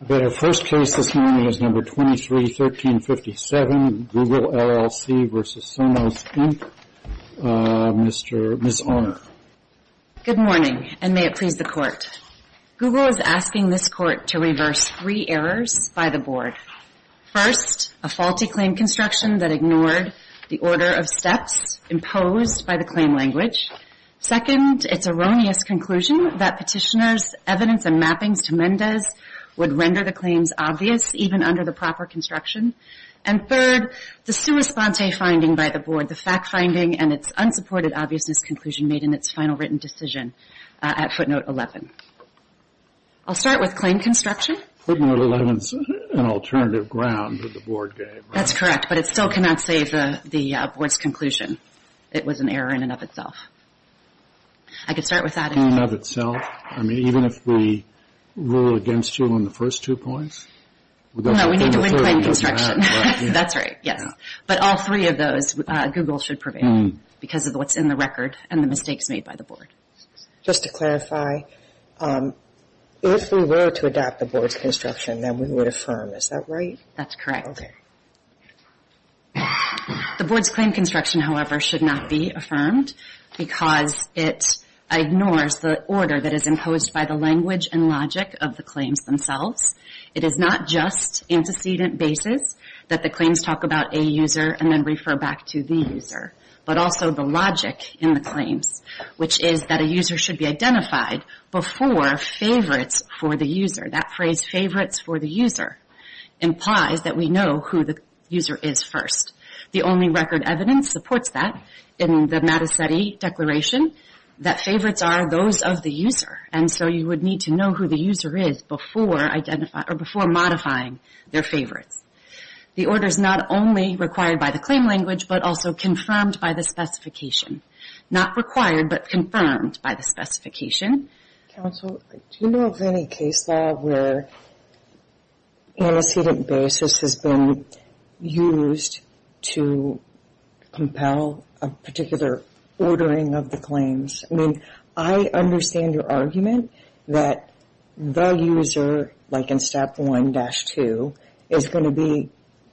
I bet our first case this morning is No. 23-1357, Google LLC v. Sonos, Inc., Ms. Arner. Good morning, and may it please the Court. Google is asking this Court to reverse three errors by the Board. First, a faulty claim construction that ignored the order of steps imposed by the claim language. Second, its erroneous conclusion that petitioners' evidence and mappings to Mendez would render the claims obvious even under the proper construction. And third, the sua sponte finding by the Board, the fact-finding and its unsupported obviousness conclusion made in its final written decision at footnote 11. I'll start with claim construction. Footnote 11 is an alternative ground that the Board gave. That's correct, but it still cannot save the Board's conclusion. It was an error in and of itself. I could start with that. In and of itself? I mean, even if we rule against you on the first two points? No, we need to win claim construction. That's right, yes. But all three of those, Google should prevail because of what's in the record and the mistakes made by the Board. Just to clarify, if we were to adopt the Board's construction, then we would affirm. Is that right? That's correct. Okay. The Board's claim construction, however, should not be affirmed because it ignores the order that is imposed by the language and logic of the claims themselves. It is not just antecedent basis that the claims talk about a user and then refer back to the user, but also the logic in the claims, which is that a user should be identified before favorites for the user. That phrase, favorites for the user, implies that we know who the user is first. The only record evidence supports that in the Matta-Setti Declaration, that favorites are those of the user, and so you would need to know who the user is before modifying their favorites. The order is not only required by the claim language, but also confirmed by the specification. Not required, but confirmed by the specification. Counsel, do you know of any case law where antecedent basis has been used to compel a particular ordering of the claims? I mean, I understand your argument that the user, like in Step 1-2, is going to be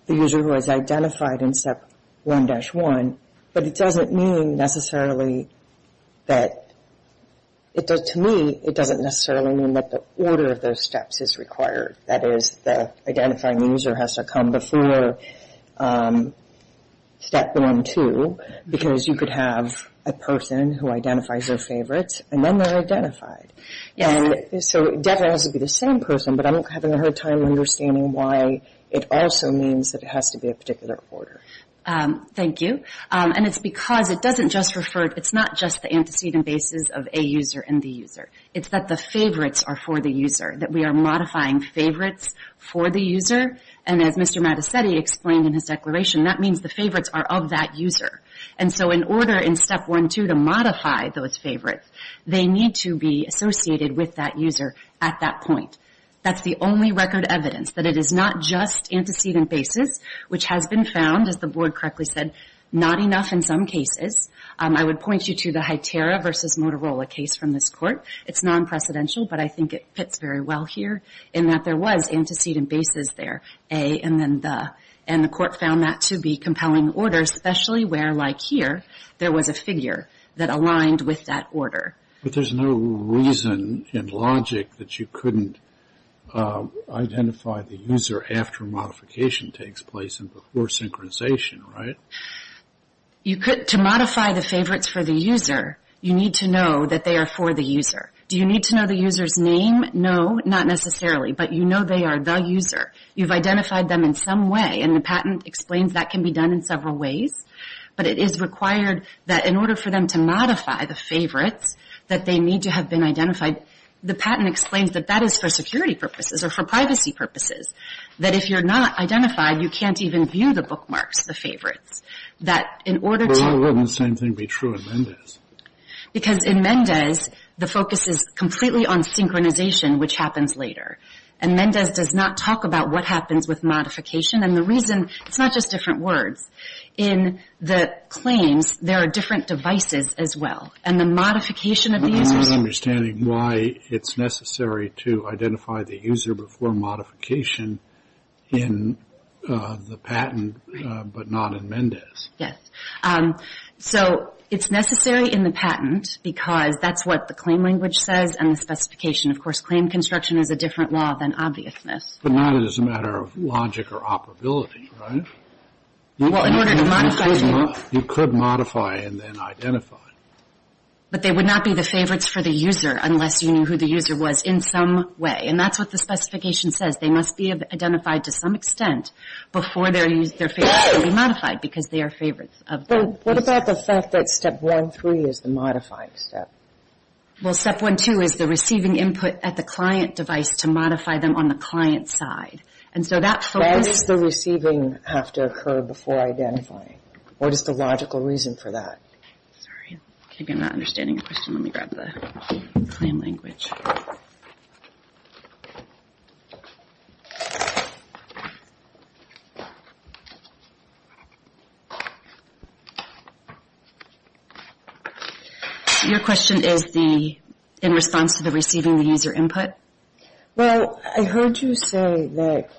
the user who is identified in Step 1-1, but it doesn't mean necessarily that, to me, it doesn't necessarily mean that the order of those steps is required. That is, the identifying user has to come before Step 1-2, because you could have a person who identifies their favorites, and then they're identified. And so it definitely has to be the same person, but I'm having a hard time understanding why it also means that it has to be a particular order. Thank you. And it's because it doesn't just refer, it's not just the antecedent basis of a user and the user. It's that the favorites are for the user, that we are modifying favorites for the user, and as Mr. Mattesetti explained in his declaration, that means the favorites are of that user. And so in order in Step 1-2 to modify those favorites, they need to be associated with that user at that point. That's the only record evidence that it is not just antecedent basis, which has been found, as the board correctly said, not enough in some cases. I would point you to the Hytera v. Motorola case from this court. It's non-precedential, but I think it fits very well here, in that there was antecedent basis there, A, and then the. And the court found that to be compelling order, especially where, like here, there was a figure that aligned with that order. But there's no reason in logic that you couldn't identify the user after modification takes place and before synchronization, right? To modify the favorites for the user, you need to know that they are for the user. Do you need to know the user's name? No, not necessarily, but you know they are the user. You've identified them in some way, and the patent explains that can be done in several ways. But it is required that in order for them to modify the favorites, that they need to have been identified. The patent explains that that is for security purposes or for privacy purposes, that if you're not identified, you can't even view the bookmarks, the favorites. But why wouldn't the same thing be true in Mendez? Because in Mendez, the focus is completely on synchronization, which happens later. And Mendez does not talk about what happens with modification. And the reason, it's not just different words. In the claims, there are different devices as well. And the modification of the users. I'm not understanding why it's necessary to identify the user before modification in the patent, but not in Mendez. Yes. So it's necessary in the patent because that's what the claim language says and the specification. Of course, claim construction is a different law than obviousness. But not as a matter of logic or operability, right? Well, in order to modify. You could modify and then identify. But they would not be the favorites for the user unless you knew who the user was in some way. And that's what the specification says. They must be identified to some extent before their favorites can be modified because they are favorites. What about the fact that Step 1.3 is the modifying step? Well, Step 1.2 is the receiving input at the client device to modify them on the client's side. And so that focus. Why does the receiving have to occur before identifying? What is the logical reason for that? Sorry. I'm not understanding your question. Let me grab the claim language. Your question is in response to the receiving the user input? Well, I heard you say that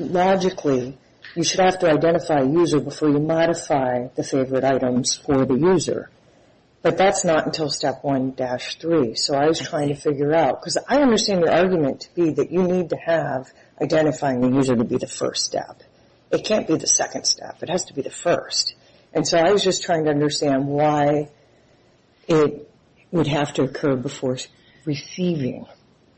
logically you should have to identify a user before you modify the favorite items for the user. But that's not until Step 1.3. So I was trying to figure out. Because I understand your argument to be that you need to have identifying the user to be the first step. It can't be the second step. It has to be the first. And so I was just trying to understand why it would have to occur before receiving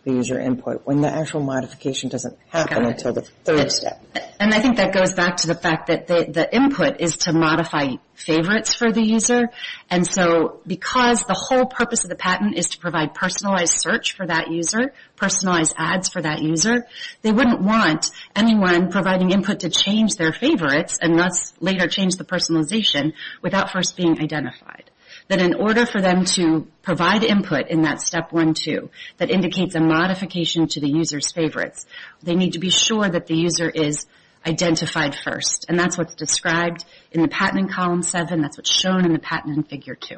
the user input when the actual modification doesn't happen until the third step. And I think that goes back to the fact that the input is to modify favorites for the user. And so because the whole purpose of the patent is to provide personalized search for that user, personalized ads for that user, they wouldn't want anyone providing input to change their favorites and thus later change the personalization without first being identified. That in order for them to provide input in that Step 1.2 that indicates a modification to the user's favorites, they need to be sure that the user is identified first. And that's what's described in the patent in Column 7. That's what's shown in the patent in Figure 2.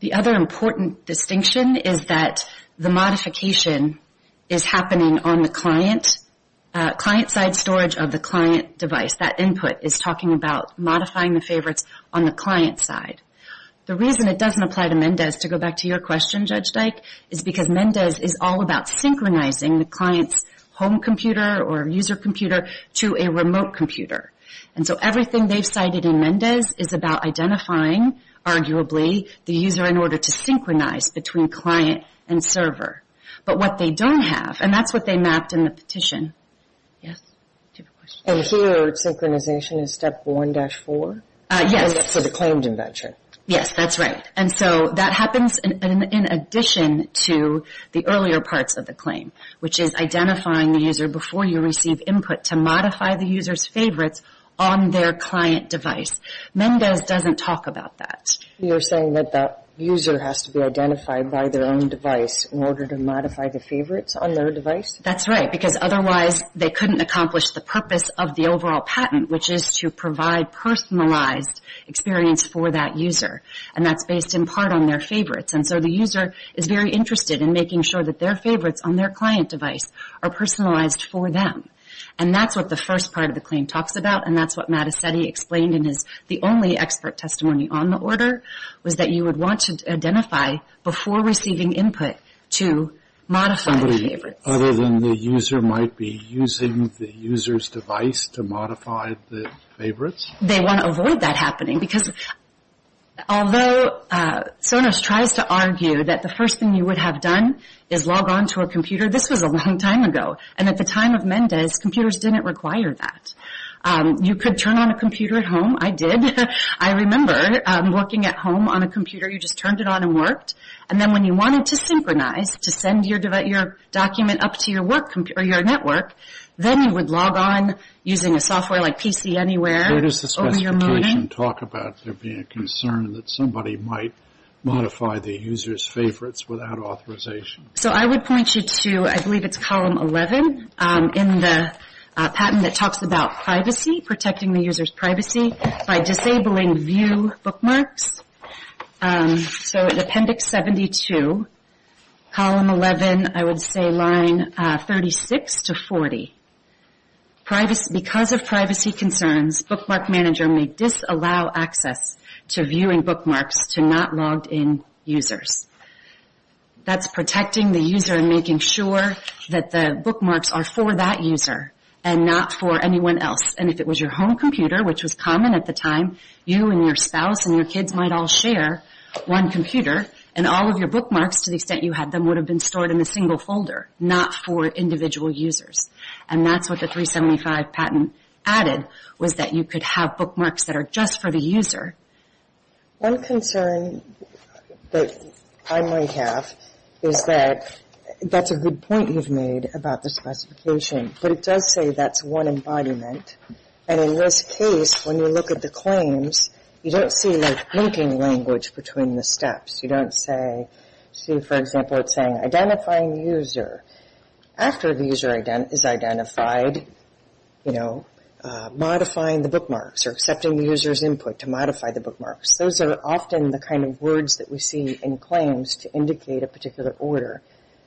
The other important distinction is that the modification is happening on the client, client-side storage of the client device. That input is talking about modifying the favorites on the client side. The reason it doesn't apply to Mendes, to go back to your question, Judge Dyke, is because Mendes is all about synchronizing the client's home computer or user computer to a remote computer. And so everything they've cited in Mendes is about identifying, arguably, the user in order to synchronize between client and server. But what they don't have, and that's what they mapped in the petition. Yes? Do you have a question? And here, synchronization is Step 1.4? Yes. And that's for the claimed invention? Yes, that's right. And so that happens in addition to the earlier parts of the claim, which is identifying the user before you receive input to modify the user's favorites on their client device. Mendes doesn't talk about that. You're saying that the user has to be identified by their own device in order to modify the favorites on their device? That's right, because otherwise they couldn't accomplish the purpose of the overall patent, which is to provide personalized experience for that user. And that's based in part on their favorites. And so the user is very interested in making sure that their favorites on their client device are personalized for them. And that's what the first part of the claim talks about, and that's what Mattacetti explained in his only expert testimony on the order, was that you would want to identify before receiving input to modify the favorites. Other than the user might be using the user's device to modify the favorites? They want to avoid that happening, because although Sonos tries to argue that the first thing you would have done is log on to a computer, this was a long time ago. And at the time of Mendes, computers didn't require that. You could turn on a computer at home. I did. I remember working at home on a computer. You just turned it on and worked. And then when you wanted to synchronize to send your document up to your network, then you would log on using a software like PC Anywhere. Where does the specification talk about there being a concern that somebody might modify the user's favorites without authorization? So I would point you to, I believe it's column 11 in the patent that talks about privacy, protecting the user's privacy, by disabling view bookmarks. So in appendix 72, column 11, I would say line 36 to 40, because of privacy concerns, bookmark manager may disallow access to viewing bookmarks to not logged in users. That's protecting the user and making sure that the bookmarks are for that user and not for anyone else. And if it was your home computer, which was common at the time, you and your spouse and your kids might all share one computer, and all of your bookmarks, to the extent you had them, would have been stored in a single folder, not for individual users. And that's what the 375 patent added, was that you could have bookmarks that are just for the user. One concern that I might have is that that's a good point you've made about the specification, but it does say that's one embodiment. And in this case, when you look at the claims, you don't see like linking language between the steps. You don't see, for example, it's saying identifying user. After the user is identified, modifying the bookmarks or accepting the user's input to modify the bookmarks. Those are often the kind of words that we see in claims to indicate a particular order.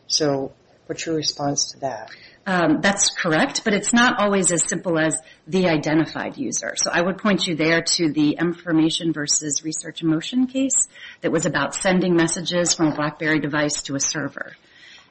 So what's your response to that? That's correct, but it's not always as simple as the identified user. So I would point you there to the information versus research emotion case that was about sending messages from a BlackBerry device to a server.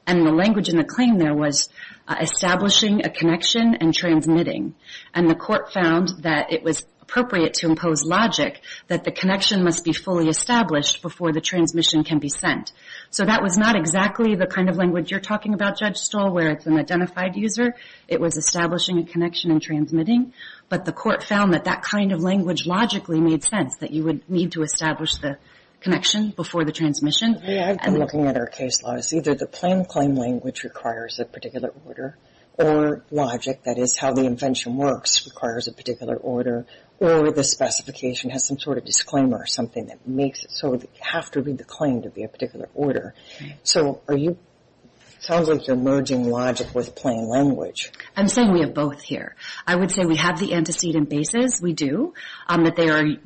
And the language in the claim there was establishing a connection and transmitting. And the court found that it was appropriate to impose logic that the connection must be fully established before the transmission can be sent. So that was not exactly the kind of language you're talking about, Judge Stoll, where it's an identified user. It was establishing a connection and transmitting. But the court found that that kind of language logically made sense, that you would need to establish the connection before the transmission. I've been looking at our case laws. Either the plain claim language requires a particular order, or logic, that is how the invention works, requires a particular order, or the specification has some sort of disclaimer or something that makes it so that you have to read the claim to be a particular order. So it sounds like you're merging logic with plain language. I'm saying we have both here. I would say we have the antecedent basis. We do, that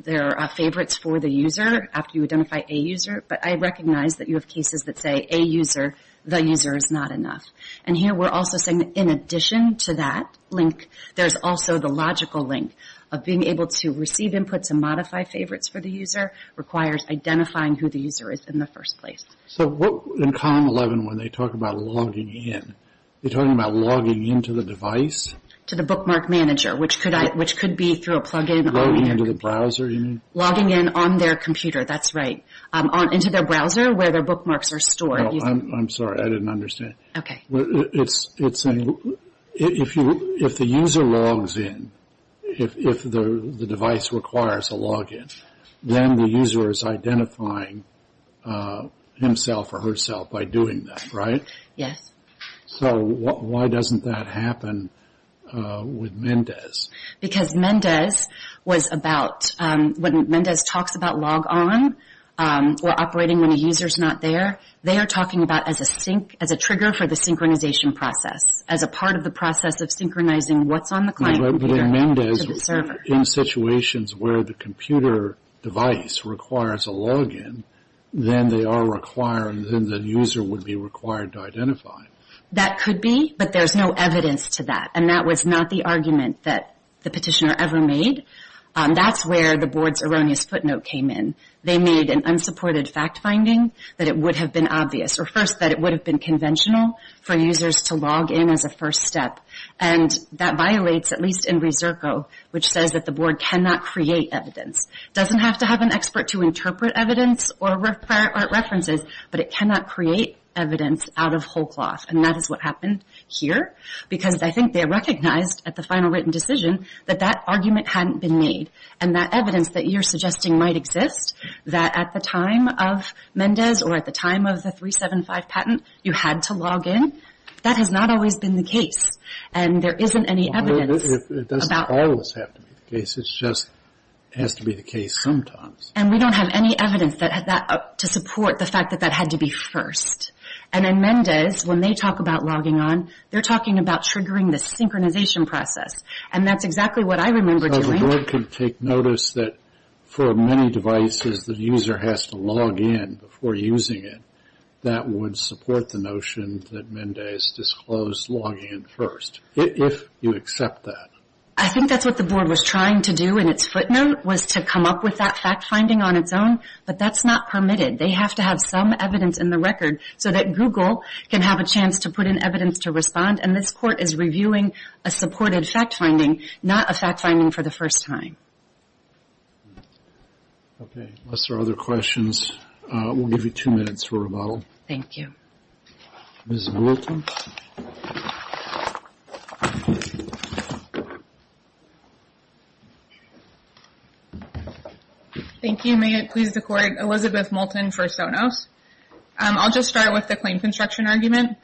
there are favorites for the user after you identify a user. But I recognize that you have cases that say a user, the user is not enough. And here we're also saying that in addition to that link, there's also the logical link of being able to receive inputs and modify favorites for the user requires identifying who the user is in the first place. So in column 11 when they talk about logging in, they're talking about logging into the device? To the bookmark manager, which could be through a plug-in. Logging into the browser, you mean? Logging in on their computer, that's right. Into their browser where their bookmarks are stored. I'm sorry, I didn't understand. Okay. It's saying if the user logs in, if the device requires a log in, then the user is identifying himself or herself by doing that, right? Yes. So why doesn't that happen with Mendes? Because Mendes was about, when Mendes talks about log on or operating when a user is not there, they are talking about as a trigger for the synchronization process, as a part of the process of synchronizing what's on the client computer to the server. But in Mendes, in situations where the computer device requires a log in, then they are requiring, then the user would be required to identify. That could be, but there's no evidence to that, and that was not the argument that the petitioner ever made. That's where the board's erroneous footnote came in. They made an unsupported fact finding that it would have been obvious, or first that it would have been conventional for users to log in as a first step, and that violates, at least in Reserco, which says that the board cannot create evidence. It doesn't have to have an expert to interpret evidence or references, but it cannot create evidence out of whole cloth, and that is what happened here, because I think they recognized at the final written decision that that argument hadn't been made, and that evidence that you're suggesting might exist, that at the time of Mendes or at the time of the 375 patent, you had to log in. That has not always been the case, and there isn't any evidence. It doesn't always have to be the case. It just has to be the case sometimes. And we don't have any evidence to support the fact that that had to be first. And in Mendes, when they talk about logging on, they're talking about triggering the synchronization process, and that's exactly what I remember doing. The board could take notice that for many devices, the user has to log in before using it. That would support the notion that Mendes disclosed log in first, if you accept that. I think that's what the board was trying to do in its footnote, was to come up with that fact finding on its own, but that's not permitted. They have to have some evidence in the record so that Google can have a chance to put in evidence to respond, and this court is reviewing a supported fact finding, not a fact finding for the first time. Okay, unless there are other questions, we'll give you two minutes for rebuttal. Thank you. Ms. Moulton. Thank you. May it please the court, Elizabeth Moulton for Sonos. I'll just start with the claim construction argument.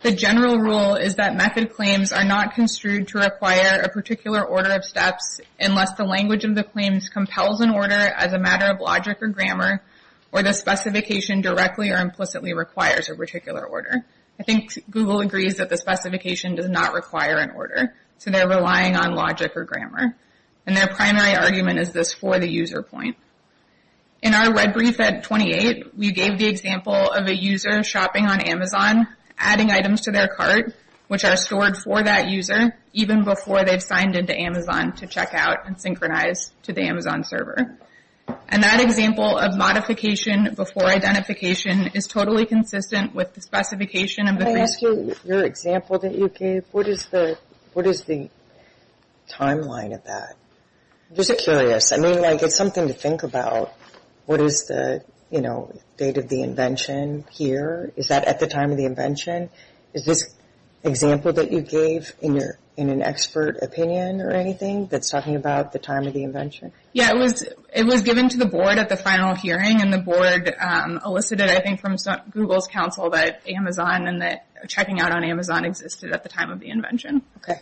The general rule is that method claims are not construed to require a particular order of steps, unless the language of the claims compels an order as a matter of logic or grammar, or the specification directly or implicitly requires a particular order. I think Google agrees that the specification does not require an order, so they're relying on logic or grammar, and their primary argument is this for the user point. In our red brief at 28, we gave the example of a user shopping on Amazon, adding items to their cart, which are stored for that user, even before they've signed into Amazon to check out and synchronize to the Amazon server. And that example of modification before identification is totally consistent with the specification. Can I ask you your example that you gave? What is the timeline of that? I'm just curious. I mean, like, it's something to think about. What is the, you know, date of the invention here? Is that at the time of the invention? Is this example that you gave in an expert opinion or anything that's talking about the time of the invention? Yeah, it was given to the board at the final hearing, and the board elicited, I think, from Google's counsel that Amazon and that checking out on Amazon existed at the time of the invention. Okay.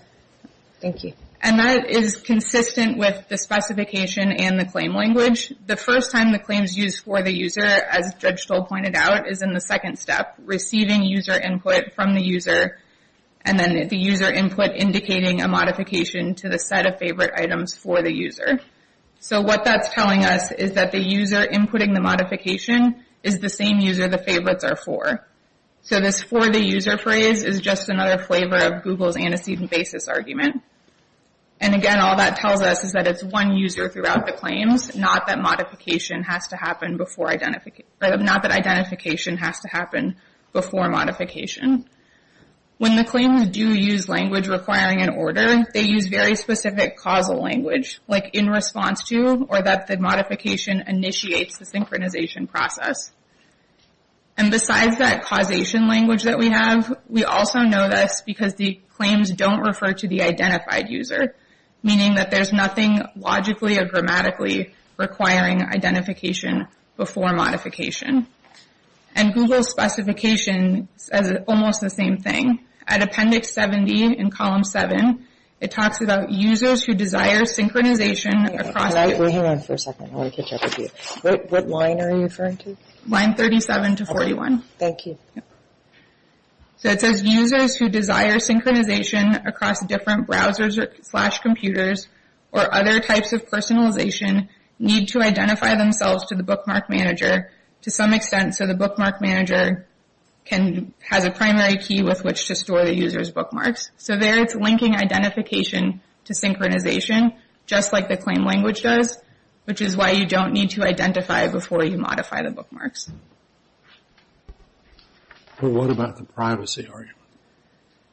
Thank you. And that is consistent with the specification and the claim language. The first time the claim is used for the user, as Judge Stoll pointed out, is in the second step, receiving user input from the user, and then the user input indicating a modification to the set of favorite items for the user. So what that's telling us is that the user inputting the modification is the same user the favorites are for. So this for the user phrase is just another flavor of Google's antecedent basis argument. And again, all that tells us is that it's one user throughout the claims, not that identification has to happen before modification. When the claims do use language requiring an order, they use very specific causal language, like in response to, or that the modification initiates the synchronization process. And besides that causation language that we have, we also know this because the claims don't refer to the identified user, meaning that there's nothing logically or grammatically requiring identification before modification. And Google's specification says almost the same thing. At Appendix 70 in Column 7, it talks about users who desire synchronization across... Hang on for a second, I want to catch up with you. What line are you referring to? Line 37 to 41. Thank you. So it says users who desire synchronization across different browsers or slash computers or other types of personalization need to identify themselves to the bookmark manager to some extent so the bookmark manager has a primary key with which to store the user's bookmarks. So there it's linking identification to synchronization, just like the claim language does, which is why you don't need to identify before you modify the bookmarks. But what about the privacy argument?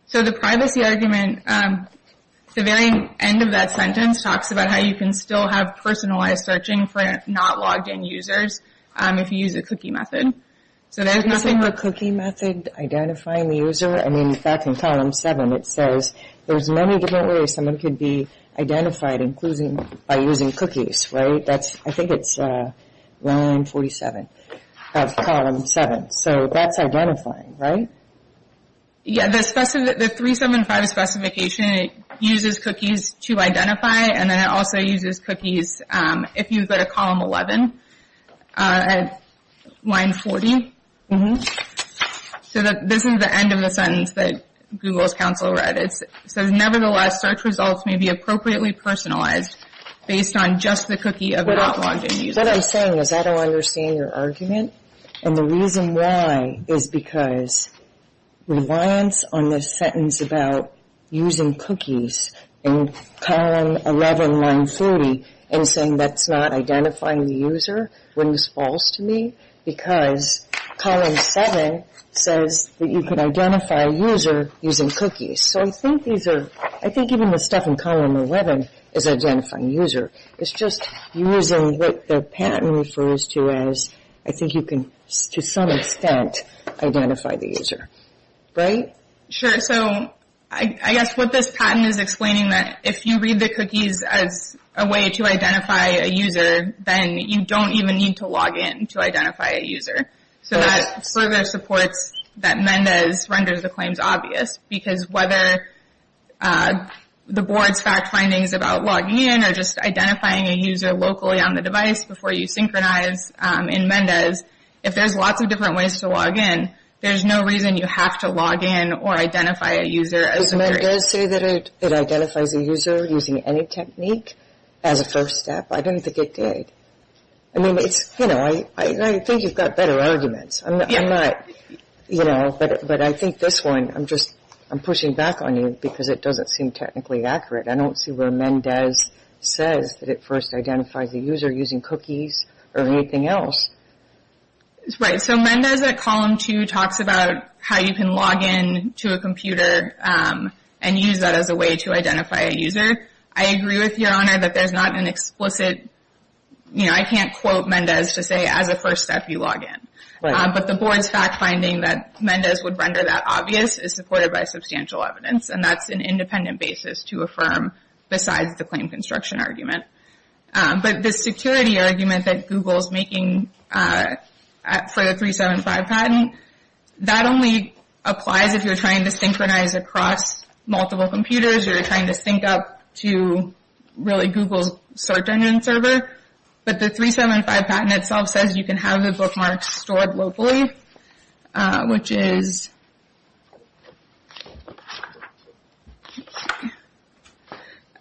So the privacy argument, the very end of that sentence talks about how you can still have personalized searching for not logged in users if you use a cookie method. Is there a cookie method identifying the user? I mean, in fact, in Column 7 it says there's many different ways someone could be identified by using cookies, right? I think it's Line 47 of Column 7. So that's identifying, right? Yeah, the 375 specification uses cookies to identify and then it also uses cookies if you go to Column 11, Line 40. So this is the end of the sentence that Google's counsel read. It says, nevertheless, search results may be appropriately personalized based on just the cookie of not logged in users. What I'm saying is I don't understand your argument and the reason why is because reliance on this sentence is about using cookies in Column 11, Line 40 and saying that's not identifying the user. Wouldn't this be false to me? Because Column 7 says that you can identify a user using cookies. So I think even the stuff in Column 11 is identifying a user. It's just using what the patent refers to as I think you can to some extent identify the user, right? Sure, so I guess what this patent is explaining that if you read the cookies as a way to identify a user, then you don't even need to log in to identify a user. So that further supports that Mendes renders the claims obvious because whether the board's fact findings about logging in or just identifying a user locally on the device before you synchronize in Mendes, if there's lots of different ways to log in, there's no reason you have to log in or identify a user. Does Mendes say that it identifies a user using any technique as a first step? I don't think it did. I mean, I think you've got better arguments, but I think this one I'm pushing back on you because it doesn't seem technically accurate. I don't see where Mendes says that it first identifies a user using cookies or anything else. Right, so Mendes at Column 2 talks about how you can log in to a computer and use that as a way to identify a user. I agree with Your Honor that there's not an explicit, you know, I can't quote Mendes to say as a first step you log in. But the board's fact finding that Mendes would render that obvious is supported by substantial evidence, and that's an independent basis to affirm besides the claim construction argument. But the security argument that Google's making for the 375 patent, that only applies if you're trying to synchronize across multiple computers or you're trying to sync up to really Google's search engine server. But the 375 patent itself says you can have the bookmarks stored locally, which is you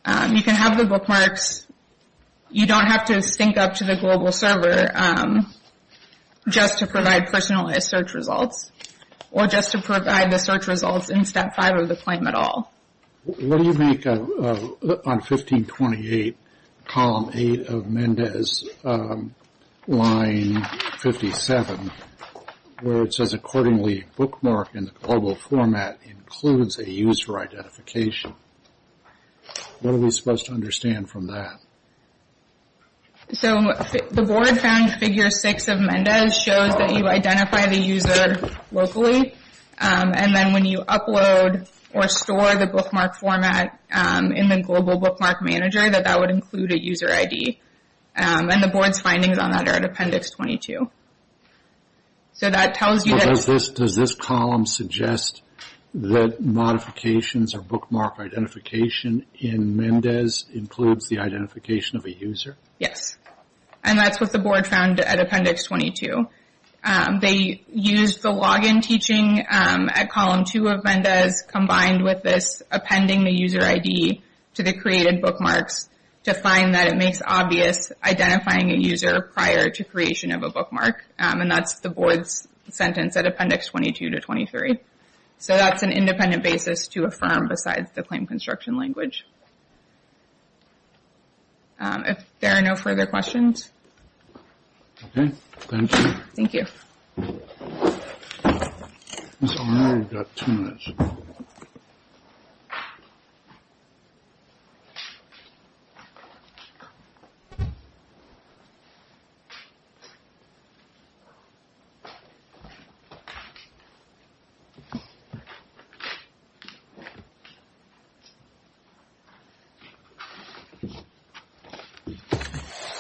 can have the bookmarks. You don't have to sync up to the global server just to provide personalized search results or just to provide the search results in Step 5 of the claim at all. What do you make on 1528, Column 8 of Mendes, Line 57, where it says accordingly bookmark in the global format includes a user identification? What are we supposed to understand from that? So the board found Figure 6 of Mendes shows that you identify the user locally, and then when you upload or store the bookmark format in the global bookmark manager, that that would include a user ID. And the board's findings on that are in Appendix 22. So that tells you that- Does this column suggest that modifications or bookmark identification in Mendes includes the identification of a user? Yes, and that's what the board found at Appendix 22. They used the login teaching at Column 2 of Mendes combined with this appending the user ID to the created bookmarks to find that it makes obvious identifying a user prior to creation of a bookmark. And that's the board's sentence at Appendix 22 to 23. So that's an independent basis to affirm besides the claim construction language. If there are no further questions. Okay, thank you. Thank you. I know we've got two minutes.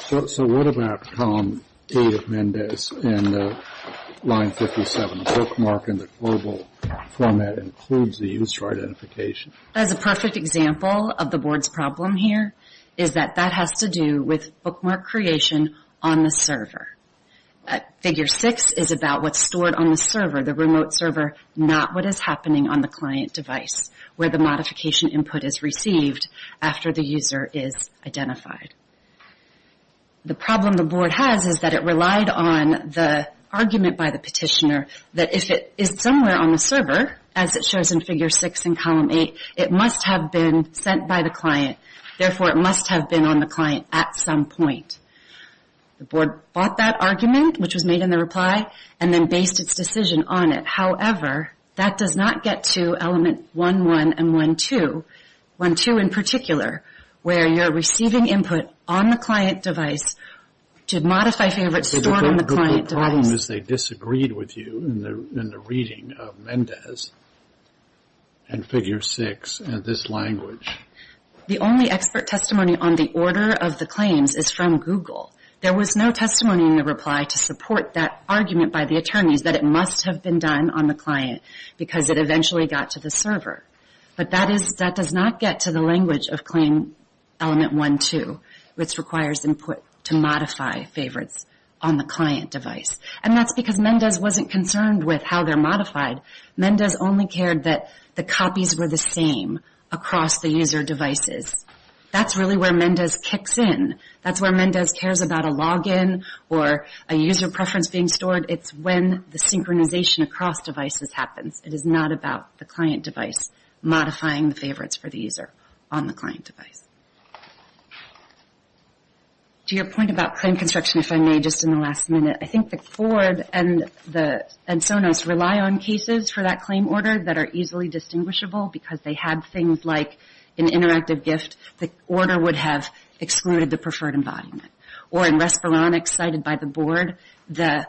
So what about Column 8 of Mendes in Line 57, the bookmark in the global format includes the user identification? As a perfect example of the board's problem here is that that has to do with bookmark creation on the server. Figure 6 is about what's stored on the server, the remote server, not what is happening on the client device where the modification input is received after the user is identified. The problem the board has is that it relied on the argument by the petitioner that if it is somewhere on the server, as it shows in Figure 6 in Column 8, it must have been sent by the client. Therefore, it must have been on the client at some point. The board bought that argument, which was made in the reply, and then based its decision on it. However, that does not get to Element 1.1 and 1.2. 1.2 in particular, where you're receiving input on the client device to modify favorites stored on the client device. The problem is they disagreed with you in the reading of Mendes and Figure 6 in this language. The only expert testimony on the order of the claims is from Google. There was no testimony in the reply to support that argument by the attorneys that it must have been done on the client because it eventually got to the server. But that does not get to the language of Claim Element 1.2, which requires input to modify favorites on the client device. And that's because Mendes wasn't concerned with how they're modified. Mendes only cared that the copies were the same across the user devices. That's really where Mendes kicks in. That's where Mendes cares about a login or a user preference being stored. It's when the synchronization across devices happens. It is not about the client device modifying the favorites for the user on the client device. To your point about claim construction, if I may, just in the last minute, I think that Ford and Sonos rely on cases for that claim order that are easily distinguishable because they had things like an interactive gift. The order would have excluded the preferred embodiment. Or in Respironics cited by the board, the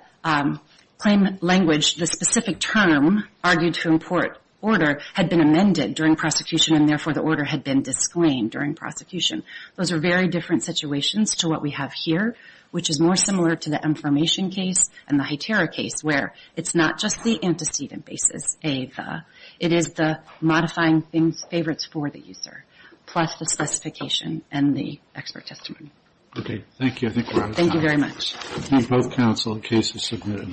claim language, the specific term argued to import order had been amended during prosecution, and therefore the order had been disclaimed during prosecution. Those are very different situations to what we have here, which is more similar to the Mformation case and the HITERA case, where it's not just the antecedent basis, A, the, it is the modifying favorites for the user, plus the specification and the expert testimony. Okay, thank you. I think we're out of time. Thank you very much. Both counsel, the case is submitted.